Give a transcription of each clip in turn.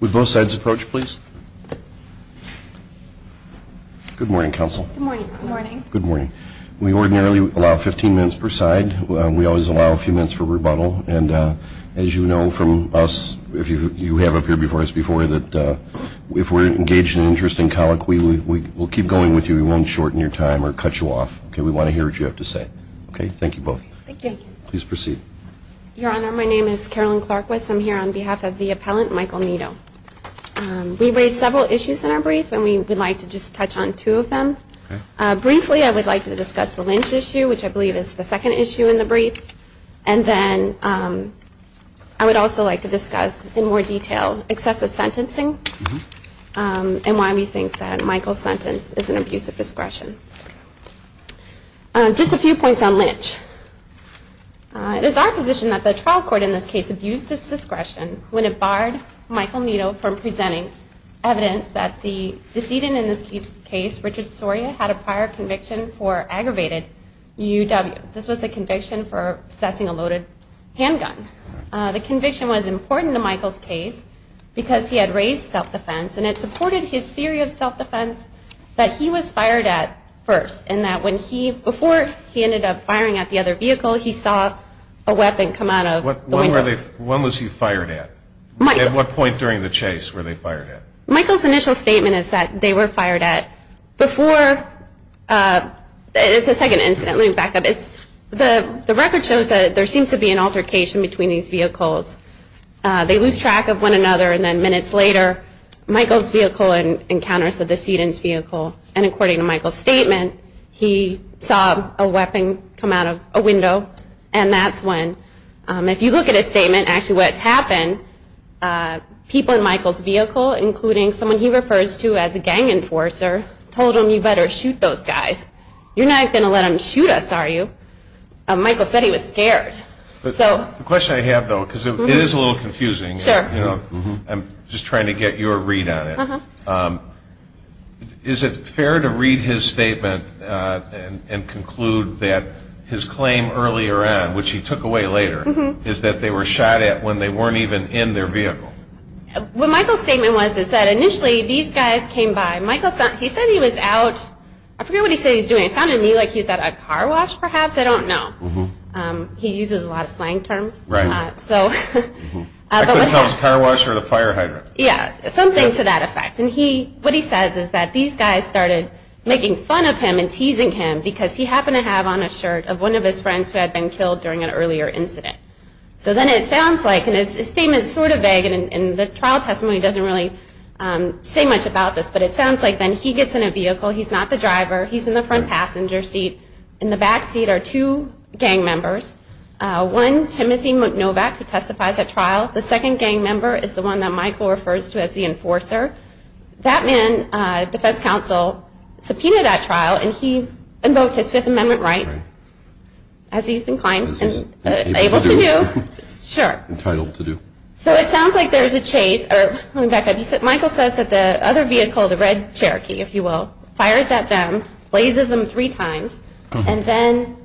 with both sides approach please good morning counsel good morning good morning we ordinarily allow 15 minutes per side we always allow a few minutes for rebuttal and as you know from us if you have up here before us before that if we're engaged in an interesting colleague we will keep going with you we won't shorten your time or cut you off okay we want to hear what you have to say okay thank you both thank you please proceed your honor my name is Carolyn Clarke West I'm here on behalf of the appellant Michael Nieto we raised several issues in our brief and we would like to just touch on two of them briefly I would like to discuss the Lynch issue which I believe is the second issue in the brief and then I would also like to discuss in more detail excessive sentencing and why we think that Michael's sentence is an abuse of discretion just a few points on Lynch it is our position that the trial court in this case abused its discretion when it barred Michael Nieto from presenting evidence that the decedent in this case Richard Soria had a prior conviction for aggravated UW this was a conviction for assessing a loaded handgun the conviction was important to Michael's case because he had raised self-defense and it supported his theory of self-defense that he was fired at first and that when he before he ended up firing at the other vehicle he saw a weapon come out of what when were they when was he fired at Mike at what point during the chase where they fired at Michael's initial statement is that they were fired at before it's a second incident we back up it's the the record shows that there seems to be an altercation between these vehicles they lose track of one another and then minutes later Michael's vehicle and encounters of the seedings vehicle and according to Michael's statement he saw a weapon come out of a window and that's when if you look at a statement actually what happened people in Michael's vehicle including someone he refers to as a gang enforcer told him you better shoot those guys you're not gonna let him shoot us are you Michael said he was scared so the question I have though because it is a little confusing sure you know I'm just trying to get your read on it is it fair to read his statement and conclude that his claim earlier on which he took away later is that they were shot at when they weren't even in their vehicle what Michael's statement was is that initially these guys came by Michael said he said he was out I forget what he said he's doing it sounded me like he's at a car wash perhaps I don't know he something to that effect and he what he says is that these guys started making fun of him and teasing him because he happened to have on a shirt of one of his friends who had been killed during an earlier incident so then it sounds like and it's a statement sort of vague and in the trial testimony doesn't really say much about this but it sounds like then he gets in a vehicle he's not the driver he's in the front passenger seat in the back seat are two gang members one Timothy McNovak who testifies at trial the second gang member is the one that Michael refers to as the enforcer that man defense counsel subpoenaed at trial and he invoked his Fifth Amendment right as he's inclined to do so it sounds like there's a chase or Michael says that the other vehicle the red Cherokee if you will fires at them blazes them three times and then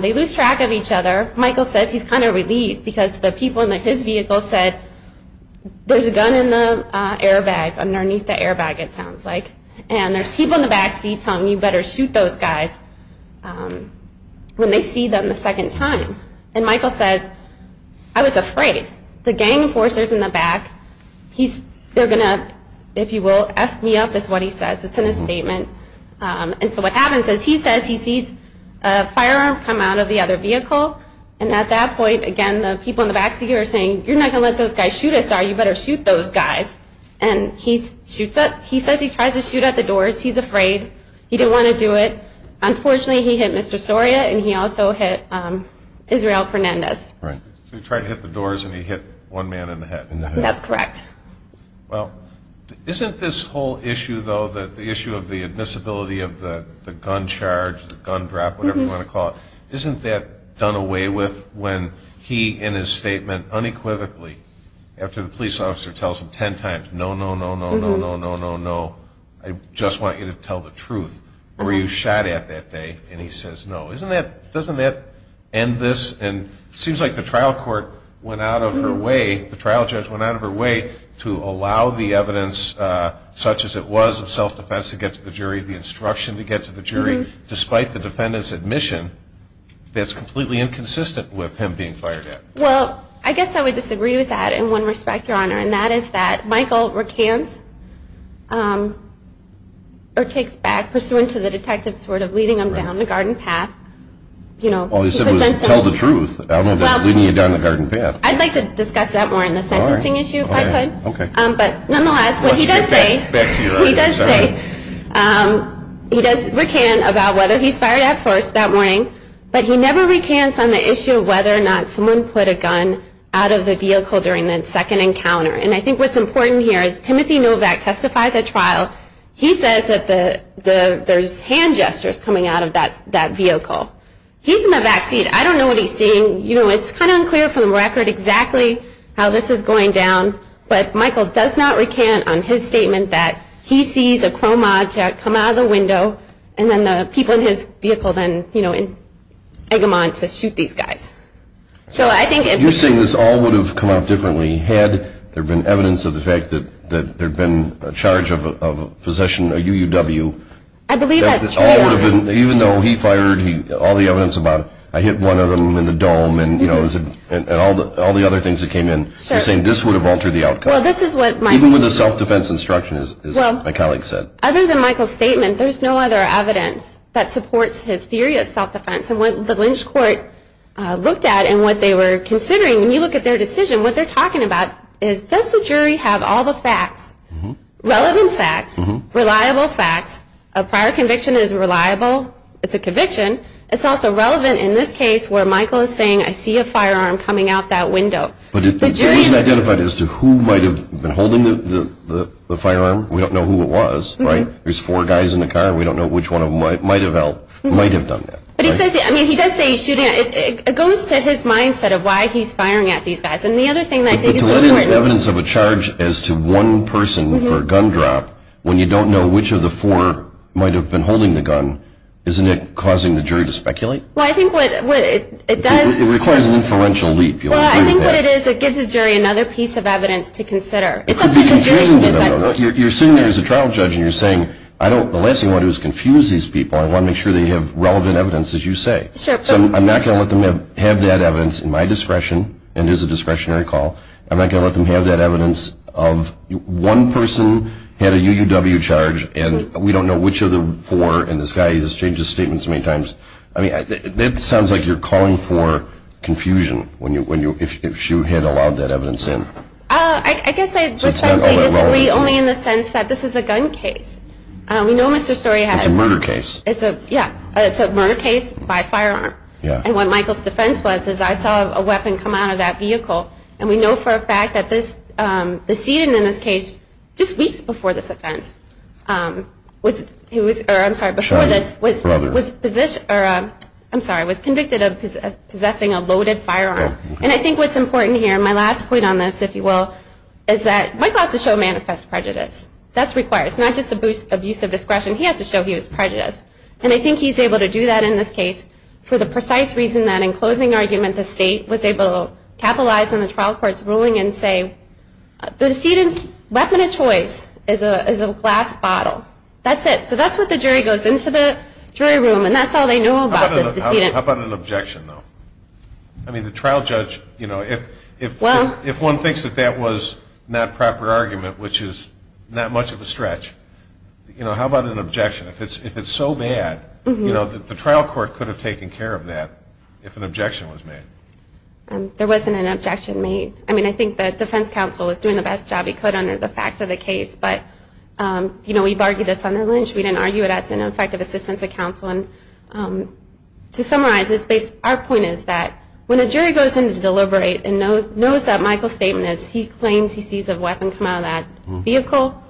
they lose track of each other Michael says he's kind of relieved because the people in that his vehicle said there's a gun in the airbag underneath the airbag it sounds like and there's people in the backseat telling you better shoot those guys when they see them the second time and Michael says I was afraid the gang enforcers in the back he's they're gonna if you will F me up is what he says it's in a statement and so what happens is he says he sees a firearm come out of the other vehicle and at that point again the people in the back seat are saying you're not gonna let those guys shoot us are you better shoot those guys and he shoots up he says he tries to shoot at the doors he's afraid he didn't want to do it unfortunately he hit mr. Soria and he also hit Israel Fernandez right we try to hit the doors and he hit one man in the head that's correct well isn't this whole issue though that the issue of the admissibility of the gun charge the gun drop whatever you want to call it isn't that done away with when he in his statement unequivocally after the police officer tells him ten times no no no no no no no no I just want you to tell the truth or you shot at that day and he says no isn't that doesn't that end this and seems like the trial court went out of her way the trial judge went out of her way to allow the evidence such as it was of self-defense to get to the jury the instruction to get to the jury despite the defendant's admission that's completely inconsistent with him being fired at well I guess I would disagree with that in one respect your honor and that is that Michael recants or takes back pursuant to the detective sort of leading him down the garden path you know all you said was tell the truth I don't know that's leading you down the garden path but nonetheless what he does say he does say he does recant about whether he's fired at first that morning but he never recants on the issue of whether or not someone put a gun out of the vehicle during the second encounter and I think what's important here is Timothy Novak testifies at trial he says that the the there's hand gestures coming out of that that vehicle he's in the backseat I don't know what he's seeing you know it's kind of unclear from the record exactly how this is going down but Michael does not recant on his statement that he sees a chrome object come out of the window and then the people in his vehicle then you know in Eggemont to shoot these guys so I think if you're saying this all would have come out differently had there been evidence of the fact that that there'd been a charge of possession a UUW I believe that's all would have been even though he fired he all the evidence about I hit one of them in the dome and you know is it and all the all the other things that came in saying this would have altered the outcome this is what might be with a self-defense instruction is my colleague said other than Michael statement there's no other evidence that supports his theory of self-defense and what the Lynch court looked at and what they were considering when you look at their decision what they're talking about is does the jury have all the facts relevant facts reliable facts a prior conviction is reliable it's a in this case where Michael is saying I see a firearm coming out that window identified as to who might have been holding the firearm we don't know who it was right there's four guys in the car we don't know which one of them might might have helped might have done that it goes to his mindset of why he's firing at these guys and the other thing I think evidence of a charge as to one person for a gun drop when you don't know which of the four might have been holding the gun isn't it causing the jury to speculate well I think what it does it requires an inferential leap you I think what it is it gives a jury another piece of evidence to consider you're sitting there as a trial judge and you're saying I don't the last thing what it was confuse these people I want to make sure they have relevant evidence as you say so I'm not gonna let them have have that evidence in my discretion and is a discretionary call I'm not gonna let them have that evidence of one person had a UUW charge and we don't know which of the four and this guy's a stranger statements many times I mean that sounds like you're calling for confusion when you when you if you had allowed that evidence in I guess only in the sense that this is a gun case we know mr. story had a murder case it's a yeah it's a murder case by firearm yeah and what Michaels defense was is I saw a weapon come out of that vehicle and we know for a fact that this the seeding in this case just weeks before this offense was it was or I'm sorry before this was was position or I'm sorry I was convicted of possessing a loaded firearm and I think what's important here my last point on this if you will is that I got to show manifest prejudice that's required it's not just a boost of use of discretion he has to show he was prejudiced and I think he's able to do that in this case for the precise reason that in closing argument the state was able to capitalize on the trial court's say the students weapon of choice is a glass bottle that's it so that's what the jury goes into the jury room and that's all they know about an objection though I mean the trial judge you know if if well if one thinks that that was not proper argument which is not much of a stretch you know how about an objection if it's if it's so bad you know that the trial court could have taken care of that if an objection was made there wasn't an objection made I mean I think that defense counsel is doing the best job he could under the facts of the case but you know we've argued this on their lynch we didn't argue it as an effective assistance of counsel and to summarize it's based our point is that when a jury goes in to deliberate and knows knows that Michael statement as he claims he sees a weapon come out of that vehicle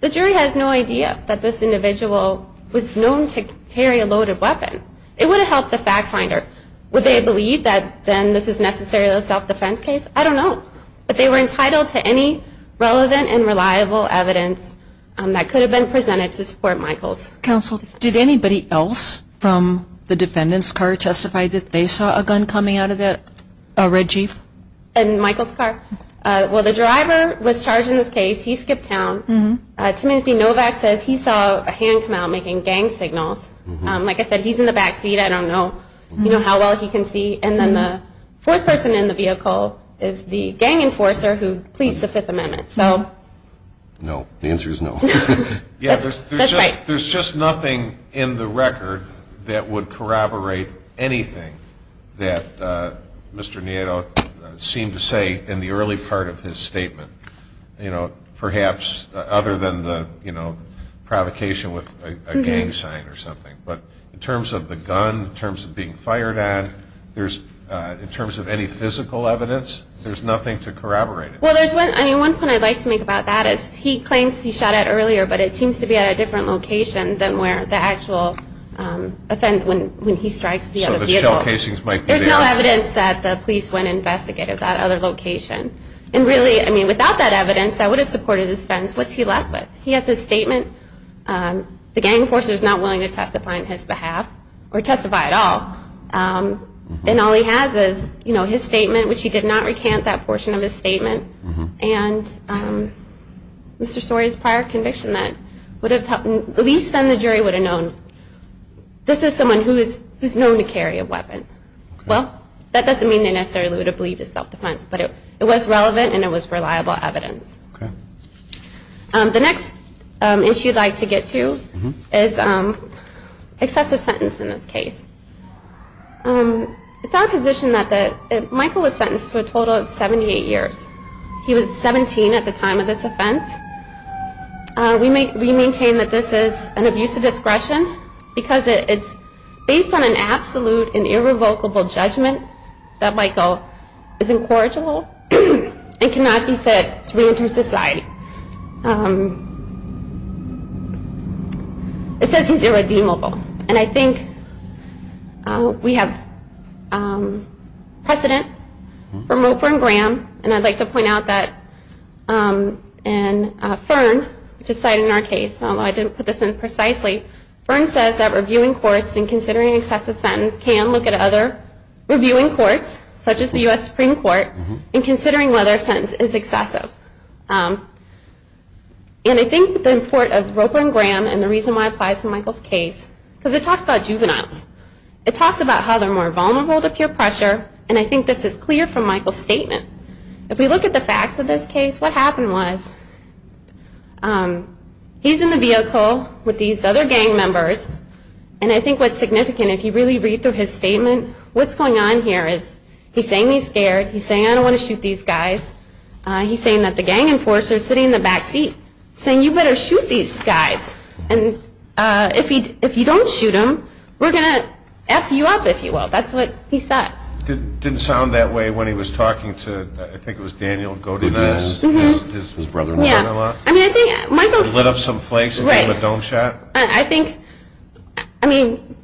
the jury has no idea that this individual was known to carry a loaded weapon it would have helped the fact finder would they believe that then this is necessarily a self-defense case I don't know but they were entitled to any relevant and reliable evidence that could have been presented to support Michaels counsel did anybody else from the defendants car testified that they saw a gun coming out of it a red jeep and Michael's car well the driver was charged in this case he skipped town mm-hmm Timothy Novak says he saw a hand come out making gang signals like I said he's in the backseat I don't know you know how well he can see and then the fourth person in the vehicle is the gang enforcer who pleased the Fifth Amendment no no the answer is no yeah there's just nothing in the record that would corroborate anything that mr. Nieto seemed to say in the early part of his statement you know perhaps other than the you know provocation with a gang sign or something but in terms of the gun in there's in terms of any physical evidence there's nothing to corroborate it well there's one I mean one point I'd like to make about that is he claims he shot at earlier but it seems to be at a different location than where the actual offense when when he strikes the other cases like there's no evidence that the police went investigated that other location and really I mean without that evidence that would have supported his fence what's he left with he has a statement the gang enforcers not willing to testify on his behalf or testify at all and all he has is you know his statement which he did not recant that portion of his statement and mr. stories prior conviction that would have happened at least then the jury would have known this is someone who is who's known to carry a weapon well that doesn't mean they necessarily would have believed his self-defense but it it was relevant and it was reliable evidence the next issue I'd like to get to is excessive sentence in this case it's our position that that Michael was sentenced to a total of 78 years he was 17 at the time of this offense we may we maintain that this is an abuse of discretion because it's based on an absolute and irrevocable judgment that Michael is incorrigible and cannot be fit to reenter society it says he's redeemable and I think we have precedent from Oprah and Graham and I'd like to point out that and Fern which is cited in our case although I didn't put this in precisely burn says that reviewing courts and considering excessive sentence can look at other reviewing courts such as the US Supreme Court and considering whether a sentence is excessive and I think the import of Michael's case because it talks about juveniles it talks about how they're more vulnerable to peer pressure and I think this is clear from Michael's statement if we look at the facts of this case what happened was he's in the vehicle with these other gang members and I think what's significant if you really read through his statement what's going on here is he's saying he's scared he's saying I don't want to shoot these guys he's saying that the gang enforcers are sitting in the backseat saying you better shoot these guys and if he if you don't shoot him we're gonna F you up if you will that's what he says didn't sound that way when he was talking to I think it was Daniel I mean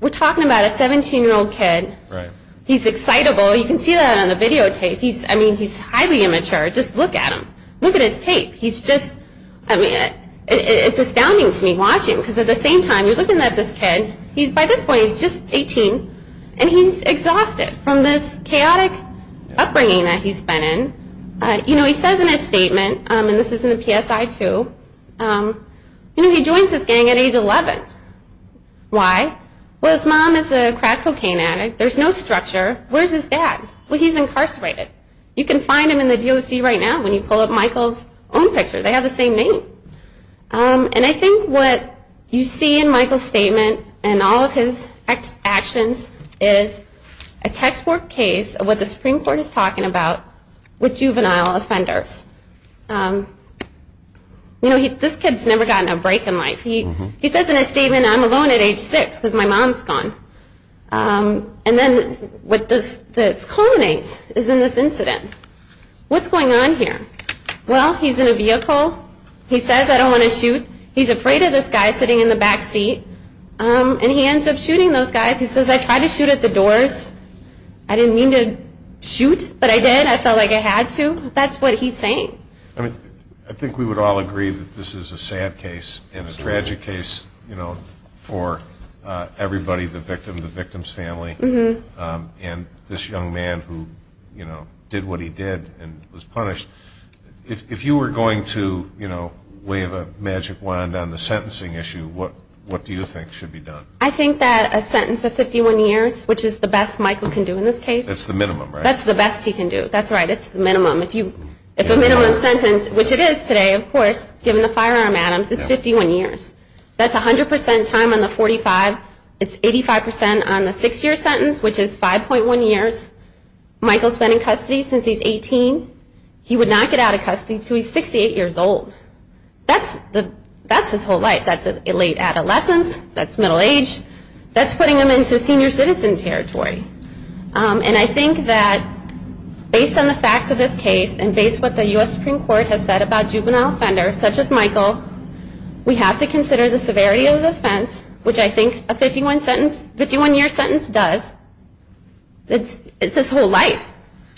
we're talking about a 17 year old kid he's excitable you can see that on the videotape he's I mean it's astounding to me watching because at the same time you're looking at this kid he's by this point he's just 18 and he's exhausted from this chaotic upbringing that he's been in you know he says in his statement and this is in the PSI too you know he joins this gang at age 11 why well his mom is a crack cocaine addict there's no structure where's his dad well he's incarcerated you can find him in the DOC right now when you pull up Michael's own picture they have the same name and I think what you see in Michael's statement and all of his ex actions is a textbook case of what the Supreme Court is talking about with juvenile offenders you know he this kid's never gotten a break in life he he says in a statement I'm alone at age 6 because my mom's gone and then with this culminates is in this incident what's going on here well he's in a vehicle he says I don't want to shoot he's afraid of this guy sitting in the backseat and he ends up shooting those guys he says I tried to shoot at the doors I didn't mean to shoot but I did I felt like I had to that's what he's saying I mean I think we would all agree that this is a sad case and a tragic case you know for everybody the victim the victim's family mm-hmm and this young man who you know did what he did and was punished if you were going to you know wave a magic wand on the sentencing issue what what do you think should be done I think that a sentence of 51 years which is the best Michael can do in this case it's the minimum that's the best he can do that's right it's the minimum if you if a minimum sentence which it is today of course given the firearm Adams it's 51 years that's a hundred percent time on the 45 it's 85 percent on the six-year sentence which is 5.1 years Michael's been in custody since he's 18 he would not get out of custody so he's 68 years old that's the that's his whole life that's a late adolescence that's middle age that's putting them into senior citizen territory and I think that based on the facts of this case and based what the US Supreme Court has said about juvenile offender such as Michael we have to consider the severity of the offense which I think a 51 sentence 51 year sentence does it's it's this whole life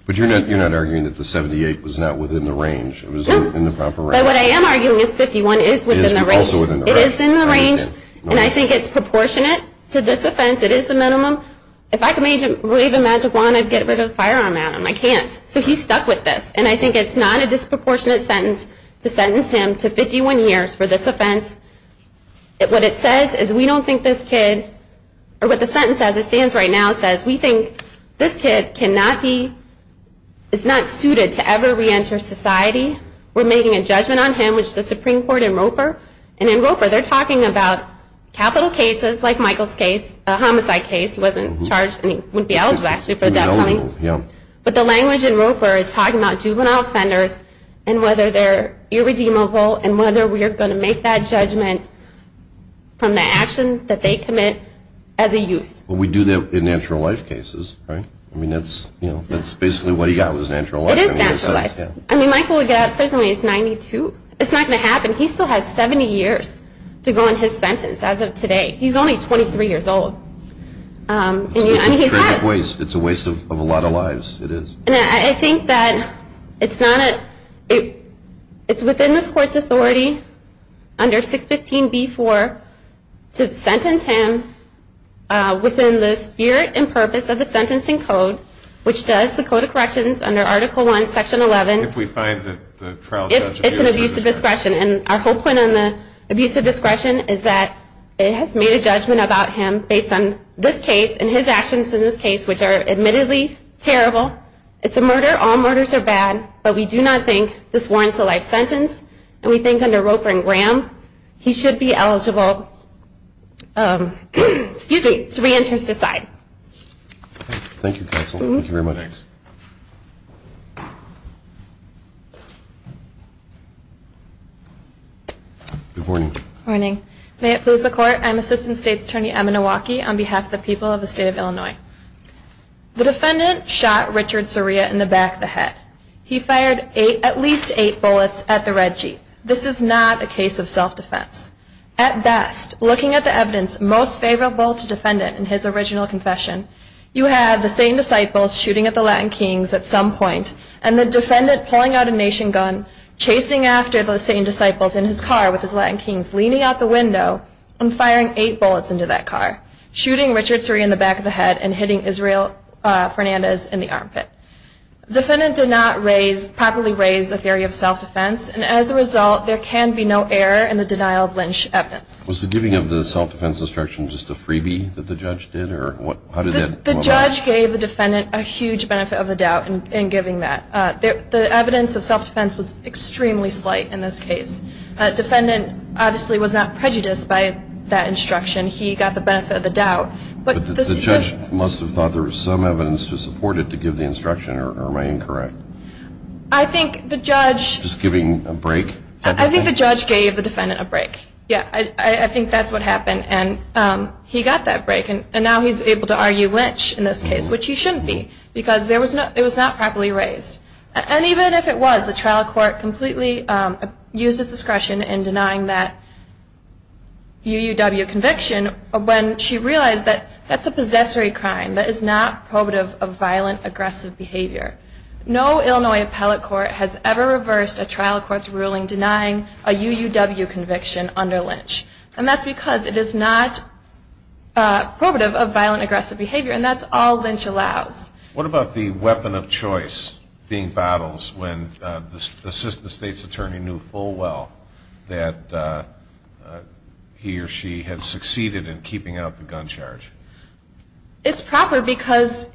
but you're not you're not arguing that the 78 was not within the range it was in the proper way what I am arguing is 51 is within the range and I think it's proportionate to this offense it is the minimum if I could make him believe a magic wand I'd get rid of disproportionate sentence to sentence him to 51 years for this offense it what it says is we don't think this kid or what the sentence as it stands right now says we think this kid cannot be it's not suited to ever reenter society we're making a judgment on him which the Supreme Court in Roper and in Roper they're talking about capital cases like Michael's case a homicide case wasn't charged and he would be eligible actually for that only yeah but the and whether they're irredeemable and whether we are going to make that judgment from the action that they commit as a youth we do that in natural life cases right I mean that's you know that's basically what he got was natural I mean Michael we got prison he's 92 it's not gonna happen he still has 70 years to go in his sentence as of today he's only 23 years old it's a waste of a lot of lives it is I think that it's not it it's within this court's authority under 615 before to sentence him within the spirit and purpose of the sentencing code which does the code of corrections under article 1 section 11 if we find that it's an abuse of discretion and our whole point on the abuse of discretion is that it has made a judgment about him based on this case and his actions in this case which are admittedly terrible it's a murder all murders are bad but we do not think this warrants a life sentence and we think under Roper and Graham he should be eligible excuse me to reenter society morning morning may it please the court I'm assistant state attorney Emma Milwaukee on behalf of the people of the state of Illinois the defendant shot Richard Soria in the back of the head he fired a at least eight bullets at the red Jeep this is not a case of self-defense at best looking at the evidence most favorable to defend it in his original confession you have the same disciples shooting at the Latin Kings at some point and the defendant pulling out a nation gun chasing after the same disciples in his car with his bullets into that car shooting Richard Soria in the back of the head and hitting Israel Fernandez in the armpit defendant did not raise properly raise a theory of self-defense and as a result there can be no error in the denial of Lynch evidence was the giving of the self-defense instruction just a freebie that the judge did or what the judge gave the defendant a huge benefit of the doubt and giving that the evidence of self-defense was extremely slight in this case defendant obviously was not prejudiced by that instruction he got the benefit of the doubt but the judge must have thought there was some evidence to support it to give the instruction or am I incorrect I think the judge just giving a break I think the judge gave the defendant a break yeah I think that's what happened and he got that break and now he's able to argue Lynch in this case which he shouldn't be because there was no it was not properly raised and even if it was the trial court completely used its discretion in denying that UUW conviction when she realized that that's a possessory crime that is not probative of violent aggressive behavior no Illinois appellate court has ever reversed a trial courts ruling denying a UUW conviction under Lynch and that's because it is not probative of violent aggressive behavior and that's all Lynch allows what about the weapon of choice being battles when the assistant state's attorney knew full well that he or she had succeeded in keeping out the gun charge it's proper because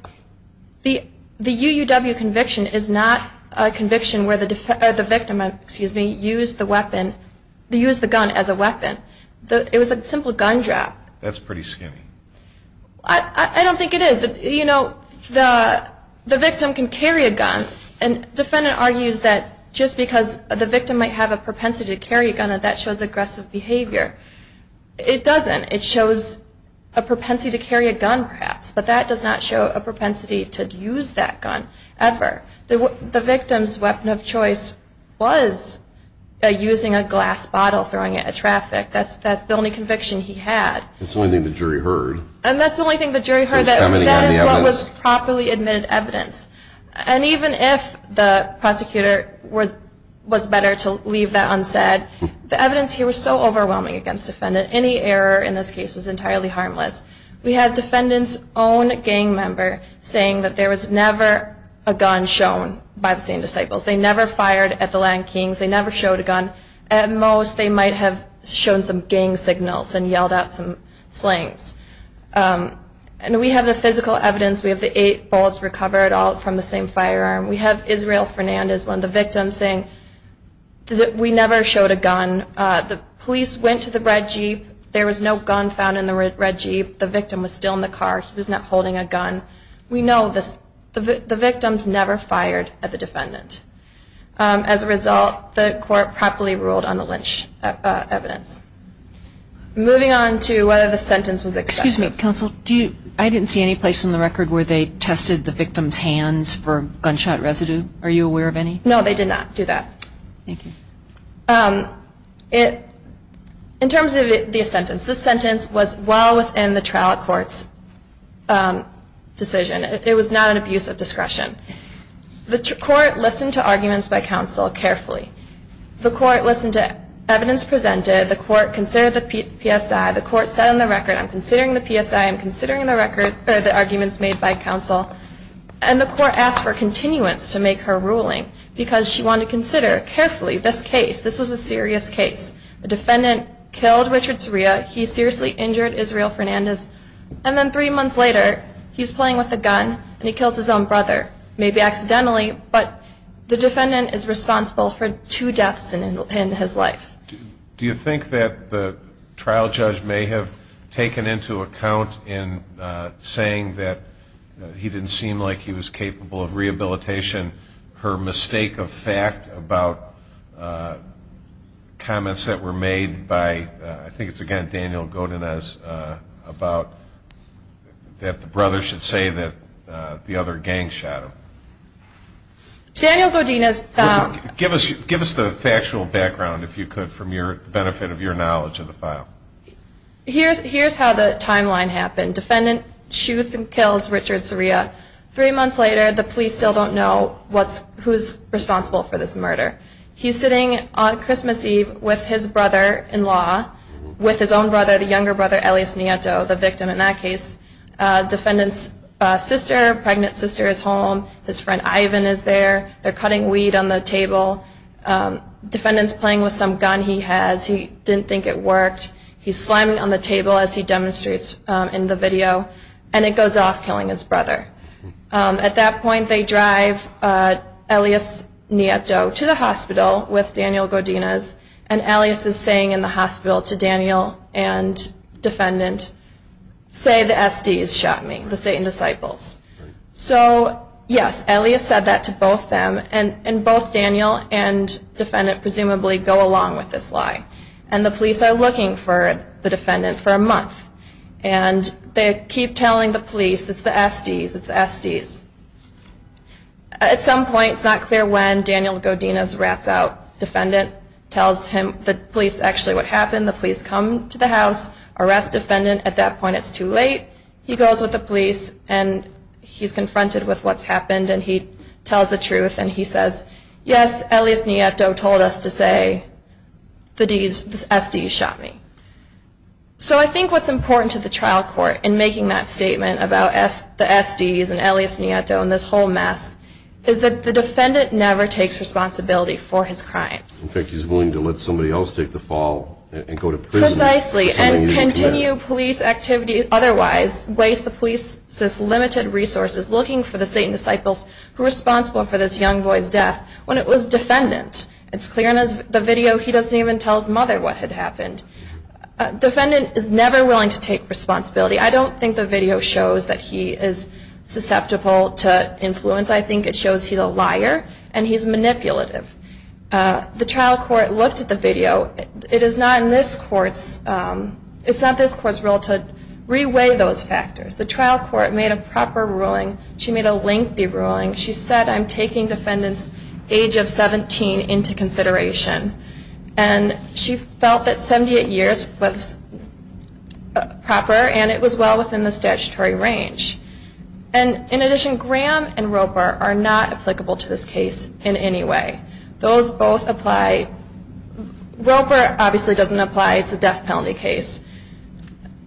the the UUW conviction is not a conviction where the victim excuse me used the weapon they use the gun as a it is that you know the the victim can carry a gun and defendant argues that just because the victim might have a propensity to carry a gun and that shows aggressive behavior it doesn't it shows a propensity to carry a gun perhaps but that does not show a propensity to use that gun ever there were the victim's weapon of choice was using a glass bottle throwing it at traffic that's that's the only conviction he had it's only the jury heard and that's the only thing the jury heard that is what was properly admitted evidence and even if the prosecutor was was better to leave that unsaid the evidence here was so overwhelming against defendant any error in this case was entirely harmless we had defendants own gang member saying that there was never a gun shown by the same disciples they never fired at the Lankings they never showed a gun at most they might have shown some gang signals and yelled out some slangs and we have the physical evidence we have the eight bullets recovered all from the same firearm we have Israel Fernandez one of the victims saying that we never showed a gun the police went to the red jeep there was no gun found in the red jeep the victim was still in the car he was not holding a gun we know this the victims never fired at the defendant as a result the court properly ruled on the evidence moving on to whether the sentence was excuse me counsel do you I didn't see any place in the record where they tested the victim's hands for gunshot residue are you aware of any no they did not do that it in terms of the sentence this sentence was well within the trial court's decision it was not an abuse of discretion the court listened to evidence presented the court considered the PSI the court said on the record I'm considering the PSI I'm considering the record the arguments made by counsel and the court asked for continuance to make her ruling because she wanted to consider carefully this case this was a serious case the defendant killed Richard Soria he seriously injured Israel Fernandez and then three months later he's playing with a gun and he kills his own brother maybe accidentally but the defendant is responsible for two deaths in his life do you think that the trial judge may have taken into account in saying that he didn't seem like he was capable of rehabilitation her mistake of fact about comments that were made by I think it's again Daniel Godinez about that the brother should say that the other gang shot him Daniel Godinez give us give us the factual background if you could from your benefit of your knowledge of the file here's here's how the timeline happened defendant shoots and kills Richard Soria three months later the police still don't know what's who's responsible for this murder he's sitting on Christmas Eve with his brother-in-law with his own brother the younger brother Elias Nieto the victim in that case defendant's sister pregnant sister is home his friend Ivan is there they're cutting weed on the table defendants playing with some gun he has he didn't think it worked he's slamming on the table as he demonstrates in the video and it goes off killing his brother at that point they drive Elias Nieto to the hospital with Daniel Godinez and Elias is saying in the hospital to Daniel and defendant say the SDs shot me the Satan disciples so yes Elias said that to both them and and both Daniel and defendant presumably go along with this lie and the police are looking for the defendant for a month and they keep telling the police it's the SDs it's the SDs at some point it's not clear when Daniel Godinez rats out defendant tells him the police actually what happened the police come to the house arrest defendant at that point it's too late he goes with the police and he's confronted with what's happened and he tells the truth and he says yes Elias Nieto told us to say the DS SD shot me so I think what's important to the trial court in making that statement about s the SDs and Elias Nieto and this whole mess is that the defendant never takes responsibility for his crimes in fact he's willing to let somebody else take the fall and go to precisely and continue police activity otherwise waste the police says limited resources looking for the same disciples who responsible for this young boy's death when it was defendant it's clear in the video he doesn't even tell his mother what had happened defendant is never willing to take responsibility I don't think the video shows that he is susceptible to influence I think it shows he's a liar and he's manipulative the trial court looked at the video it is not in this courts it's not this court's role to reweigh those factors the trial court made a proper ruling she made a lengthy ruling she said I'm taking defendants age of 17 into consideration and she felt that 78 years was proper and it was well within the statutory range and in addition Graham and Roper are not applicable to this case in any way those both apply Roper obviously doesn't apply it's a death penalty case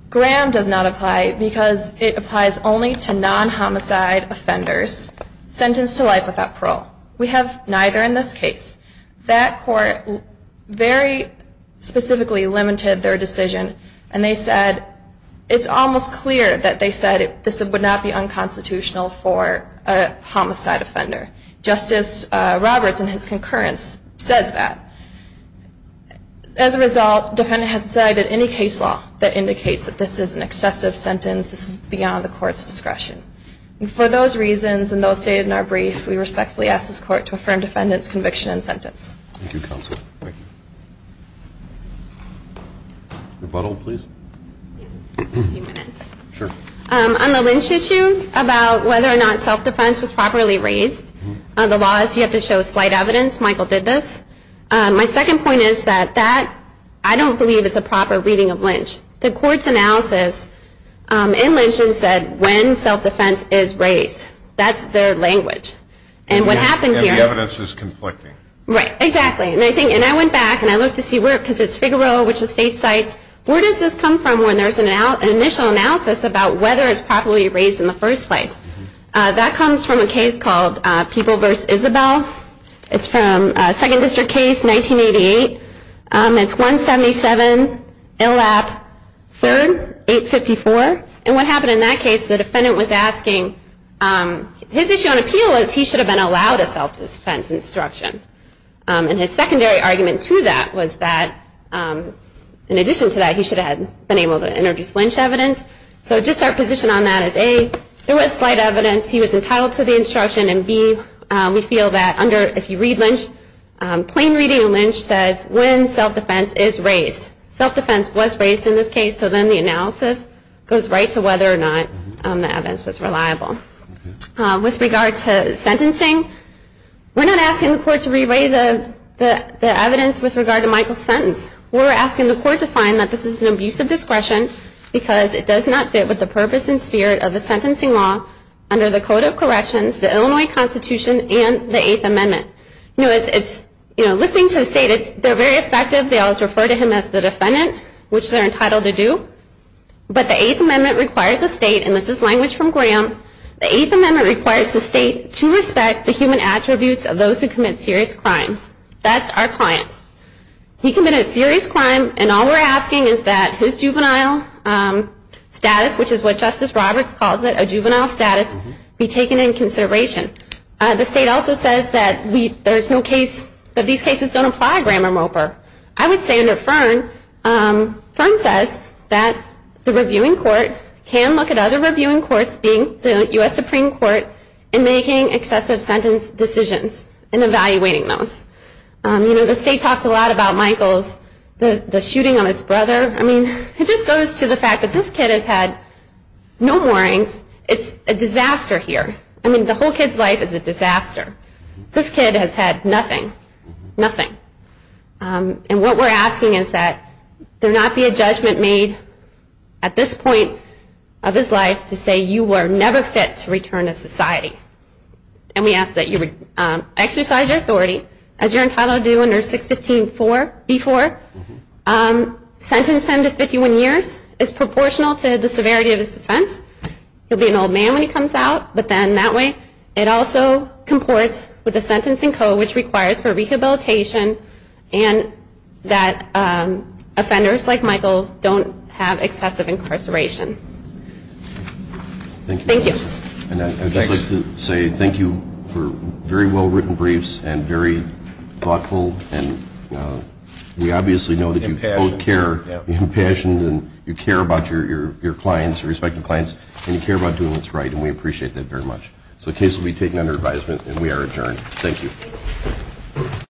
Graham does not apply because it applies only to non homicide offenders sentenced to life without parole we have neither in this case that court very specifically limited their decision and they said it's almost clear that they said this would not be unconstitutional for a homicide offender justice Roberts and his concurrence says that as a result defendant has decided any case law that indicates that this is an excessive sentence this is beyond the court's discretion and for those reasons and those stated in our brief we respectfully ask this court to affirm defendants conviction and sentence rebuttal please on the lynch issue about whether or not self-defense was my second point is that that I don't believe is a proper reading of lynch the court's analysis in lynching said when self-defense is race that's their language and what happened here this is conflicting right exactly and I think and I went back and I look to see where it because it's figaro which is state sites where does this come from when there's an out an initial analysis about whether it's properly raised in the first place that comes from a case called people vs. Isabel it's from a second district case 1988 it's 177 ill app 3854 and what happened in that case the defendant was asking his issue on appeal is he should have been allowed a self-defense instruction and his secondary argument to that was that in addition to that he should have been able to introduce lynch evidence so just our position on that is a there was slight evidence he was entitled to the instruction and be we feel that under if you read lynch plain reading lynch says when self-defense is raised self-defense was raised in this case so then the analysis goes right to whether or not the evidence was reliable with regard to sentencing we're not asking the court to relay the the evidence with regard to Michael sentence we're asking the court to find that this is an abuse of discretion because it does not fit with the purpose and spirit of the sentencing law under the code of corrections the Illinois Constitution and the eighth amendment no it's you know listening to the state it's they're very effective they always refer to him as the defendant which they're entitled to do but the eighth amendment requires the state and this is language from Graham the eighth amendment requires the state to respect the human attributes of those who commit serious crimes that's our clients he committed a serious crime and all we're asking is that his which is what justice Roberts calls it a juvenile status be taken in consideration the state also says that we there's no case that these cases don't apply Graham or Mopar I would say under Fern says that the reviewing court can look at other reviewing courts being the US Supreme Court and making excessive sentence decisions and evaluating those you know the state talks a lot about Michaels the shooting on his brother I mean it just goes to the fact that this kid has had no mornings it's a disaster here I mean the whole kid's life is a disaster this kid has had nothing nothing and what we're asking is that there not be a judgment made at this point of his life to say you were never fit to return to society and we ask that you would exercise your authority as you're entitled to do under 615 for before sentencing to 51 years is proportional to the severity of this offense you'll be an old man when he comes out but then that way it also comports with a sentencing code which requires for rehabilitation and that offenders like Michael don't have excessive incarceration thank you and I just like to say thank you for very well written briefs and very thoughtful and we obviously know that you care and you care about your your clients respecting clients and you care about doing what's right and we appreciate that very much so case will be taken under advisement and we are adjourned thank you